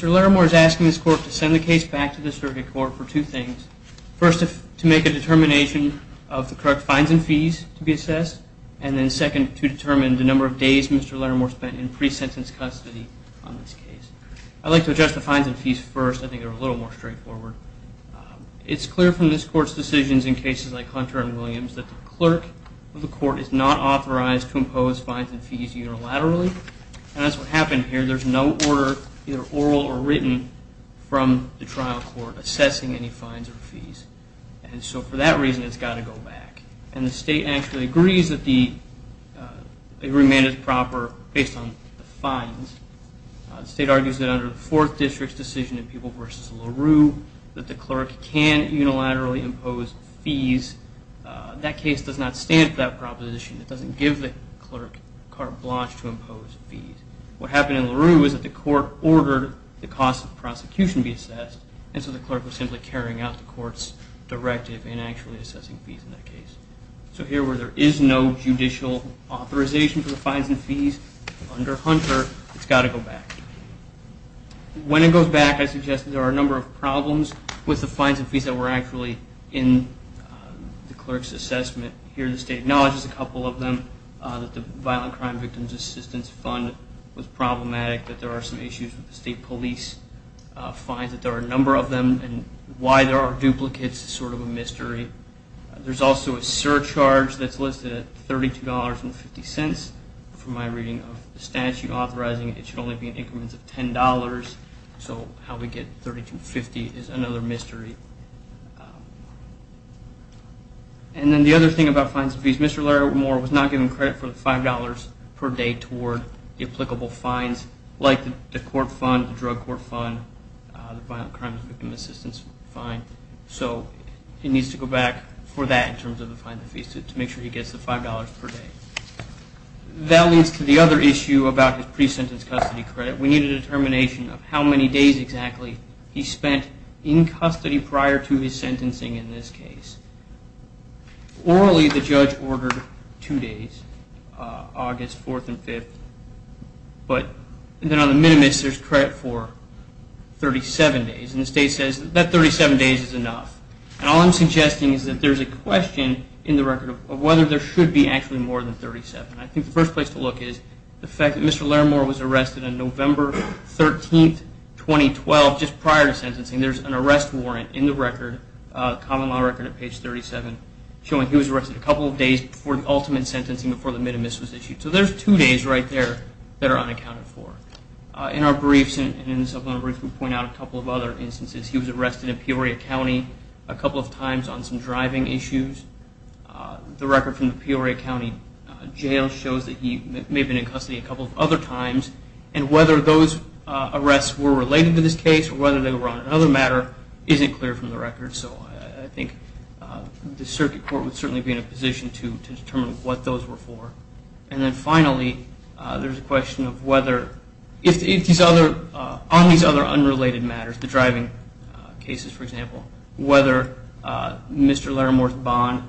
Mr. Larimore is asking this court to send the case back to the circuit court for two things. First, to make a determination of the correct fines and fees to be assessed, and then second to determine the number of days Mr. Larimore spent in pre-sentence custody on this case. I'd like to address the fines and fees first. I think they're a little more straightforward. It's clear from this court's decisions in cases like Hunter and Williams that the clerk of the court is not authorized to impose fines and fees unilaterally, and that's what happened here. There's no order, either oral or written, from the trial court assessing any fines and fees. And so for that reason, it's got to go back. And the state actually agrees that the remand is proper based on the fines. The state argues that under the 4th District's decision in People v. LaRue that the clerk can unilaterally impose fees. That case does not stand for that proposition. It doesn't give the clerk carte blanche to impose fees. What happened in LaRue is that the court ordered the cost of prosecution be assessed, and so the clerk was simply carrying out the court's directive in actually assessing fees in that case. So here where there is no judicial authorization for the fines and fees under Hunter, it's got to go back. When it goes back, I suggest that there are a number of problems with the fines and fees that were actually in the clerk's assessment. Here the state acknowledges a couple of them, that the Violent Crime Victims Assistance Fund was problematic, that there are some issues with the state police fines, that there are a number of them, and why there are duplicates is sort of a mystery. There's also a surcharge that's listed at $32.50. From my reading of the statute authorizing it, it should only be in increments of $10. So how we get $32.50 is another mystery. And then the other thing about fines and fees, Mr. Larry Moore was not given credit for the $5.00 per day toward the applicable fines like the court fund, the drug court fund, the Violent Crime Victims Assistance Fund. So he needs to go back for that in terms of the fines and fees to make sure he gets the $5.00 per day. That leads to the other issue about his pre-sentence custody credit. We need a determination of how many days exactly he spent in custody prior to his sentencing in this case. Orally the judge ordered two days, August 4th and 5th, but then on the minimus there's credit for 37 days. And the state says that 37 days is enough. And all I'm suggesting is that there's a question in the record of whether there should be actually more than 37. I think the first place to look is the fact that Mr. Larry Moore was arrested on November 13th, 2012, just prior to sentencing. There's an arrest warrant in the record, common law record at page 37, showing he was arrested a couple of days before the ultimate sentencing before the minimus was issued. So there's two days right there that are unaccounted for. In our briefs and in the supplemental briefs we point out a couple of other instances. He was arrested in Peoria County a couple of times on some driving issues. The record from the Peoria County Jail shows that he may have been in custody a couple of other times. And whether those arrests were related to this case or whether they were on another matter isn't clear from the record. So I think the Circuit Court would There's a question of whether on these other unrelated matters, the driving cases for example, whether Mr. Larry Moore's bond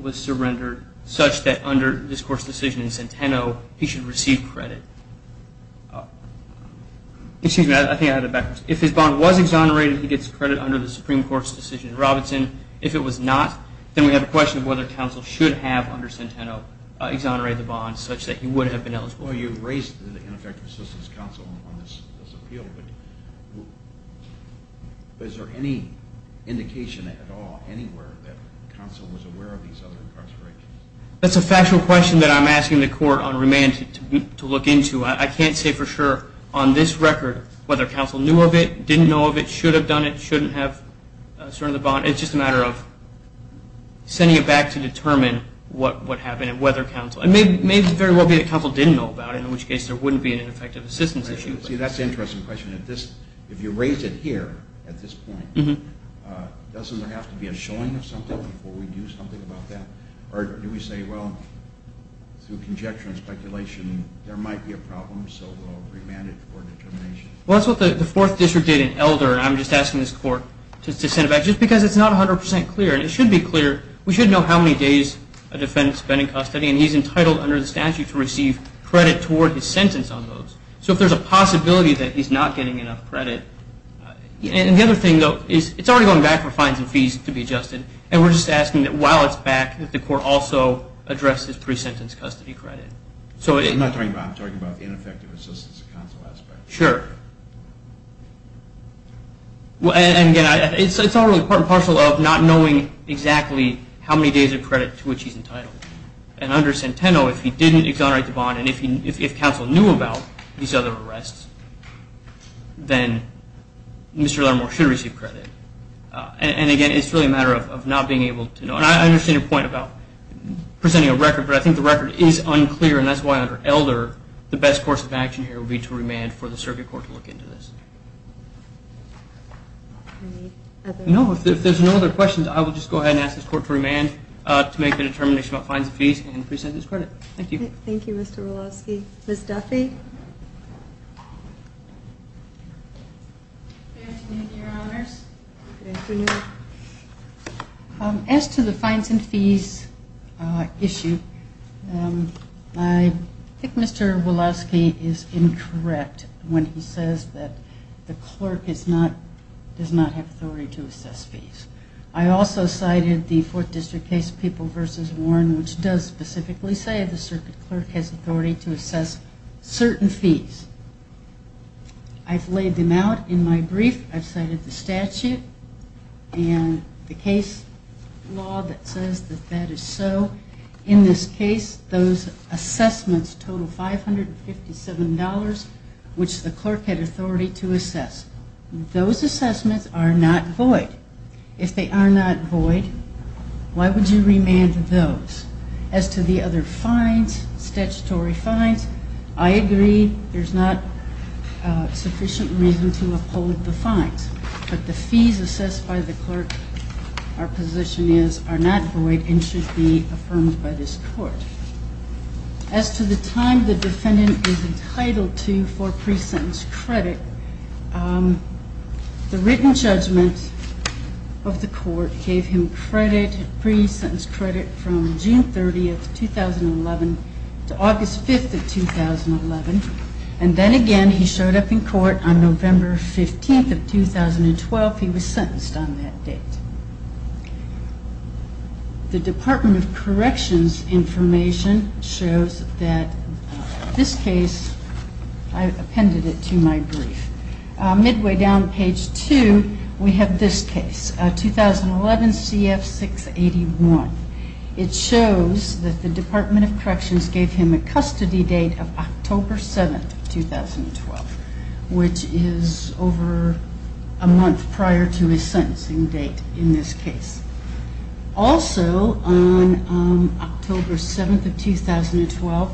was surrendered such that under this Court's decision in Centeno he should receive credit. If his bond was exonerated he gets credit under the Supreme Court's decision in You've raised the ineffective assistance counsel on this appeal, but is there any indication at all, anywhere, that counsel was aware of these other incarcerations? That's a factual question that I'm asking the Court on remand to look into. I can't say for sure on this record whether counsel knew of it, didn't know of it, should have done it, shouldn't have surrendered the bond. It's just a matter of sending it back to determine what happened and It may very well be that counsel didn't know about it, in which case there wouldn't be an ineffective assistance issue. See, that's an interesting question. If you raise it here at this point, doesn't there have to be a showing of something before we do something about that? Or do we say, well, through conjecture and speculation, there might be a problem, so we'll remand it for determination? Well, that's what the Fourth District did in Elder, and I'm just asking this Court to send it back just because it's not 100% clear. It should be clear. We should know how many days a defendant's been in custody, and he's entitled under the statute to receive credit toward his sentence on those. So if there's a possibility that he's not getting enough credit, and the other thing, though, is it's already going back for fines and fees to be adjusted, and we're just asking that while it's back, that the Court also address his pre-sentence custody credit. I'm not talking about, I'm talking about the ineffective assistance of counsel aspect. Sure. And again, it's all really part and parcel of not knowing exactly how many days of credit to which he's entitled. And under Centeno, if he didn't exonerate the bond, and if counsel knew about these other arrests, then Mr. Laramore should receive credit. And again, it's really a matter of not being able to know. And I understand your point about presenting a record, but I think the record is unclear, and that's why under Elder, the best course of action here would be to remand for the circuit court to look into this. Any other questions? No, if there's no other questions, I will just go ahead and ask this Court to remand to make the determination about fines and fees and pre-sentence credit. Thank you. Thank you, Mr. Wolofsky. Ms. Duffy? Good afternoon, Your Honors. Good afternoon. As to the fines and fees issue, I think Mr. Wolofsky is incorrect when he says that the clerk does not have authority to assess fees. I also cited the Fourth District case, People v. Warren, which does specifically say the circuit clerk has authority to assess certain fees. I've laid them out in my brief. I've cited the statute and the case law that says that that is so. In this case, those assessments total $557, which the clerk had authority to assess. Those assessments are not void. If they are not void, why would you remand those? As to the other fines, statutory fines, I agree there's not sufficient reason to uphold the fines, but the fees assessed by the clerk, our position is, are not void and should be affirmed by this Court. As to the time the defendant is entitled to for pre-sentence credit, the written judgment of the Court gave him credit, pre-sentence credit, from June 1st. He was sentenced from June 30th, 2011 to August 5th of 2011, and then again he showed up in court on November 15th of 2012, he was sentenced on that date. The Department of Corrections information shows that this case, I appended it to my brief, midway down page 2, we have this case, 2011 CF 681. It shows that the Department of Corrections gave him a custody date of October 7th, 2012, which is over a month prior to his sentencing date in this case. Also, on October 7th of 2012,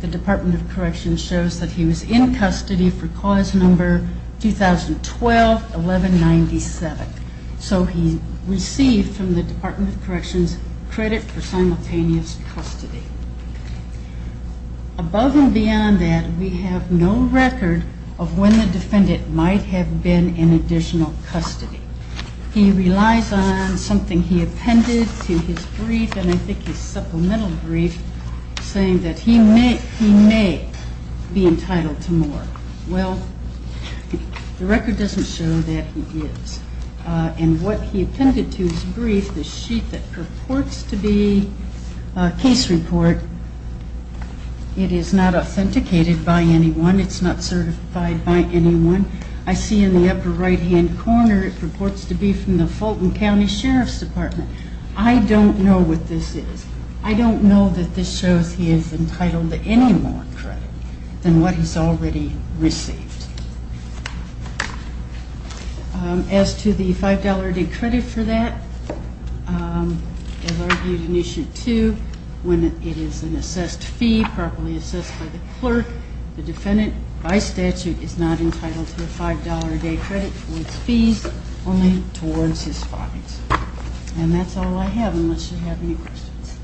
the Department of Corrections shows that he was in custody for clause number 2012-1197. So he received from the Department of Corrections credit for simultaneous custody. Above and beyond that, we have no record of when the defendant might have been in additional custody. He relies on something he appended to his brief, and I think his supplemental brief, saying that he may be entitled to more. Well, the record doesn't show that he is, and what he appended to his brief, the sheet that purports to be a case report, it is not authenticated by anyone, it's not certified by anyone. I see in the upper right-hand corner, it purports to be from the Fulton County Sheriff's Department. I don't know what this is. I don't know that this shows he is entitled to any more credit than what he's already received. As to the $5 a day credit for that, as argued in Issue 2, when it is an assessed fee, properly assessed by the clerk, the defendant, by statute, is not entitled to a $5 a day credit for his fees, only towards his fines. And that's all I have, unless you have any questions.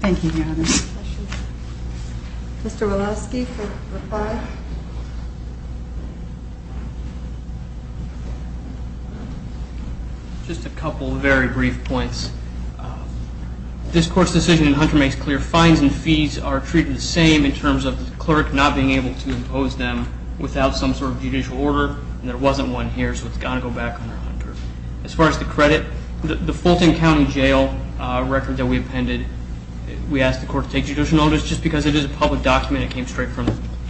Thank you, Your Honor. Mr. Walowski for reply. Just a couple of very brief points. This Court's decision in Hunter makes clear fines and fees are treated the same in terms of the clerk not being able to impose them without some sort of judicial order, and there wasn't one here, so it's got to go back on their own. As far as the credit, the Fulton County Jail record that we appended, we asked the Court to take judicial notice just because it is a public document, it came straight from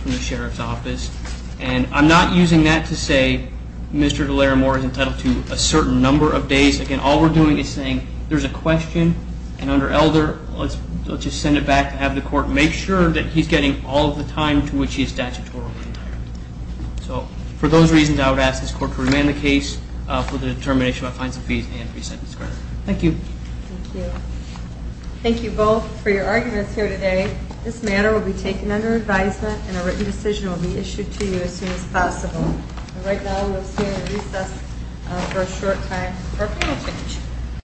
the Sheriff's Office. And I'm not using that to say Mr. DeLaramore is entitled to a certain number of days. Again, all we're doing is saying there's a question, and under Elder, let's just send it back to have the Court make sure that he's getting all of the time to which he is statutorily entitled. So for those reasons, I would ask this Court to remand the case for the determination of fines and fees and re-sentence credit. Thank you. Thank you both for your arguments here today. This matter will be taken under advisement, and a written decision will be issued to you as soon as possible. And right now, we'll stand at recess for a short time for a panel discussion.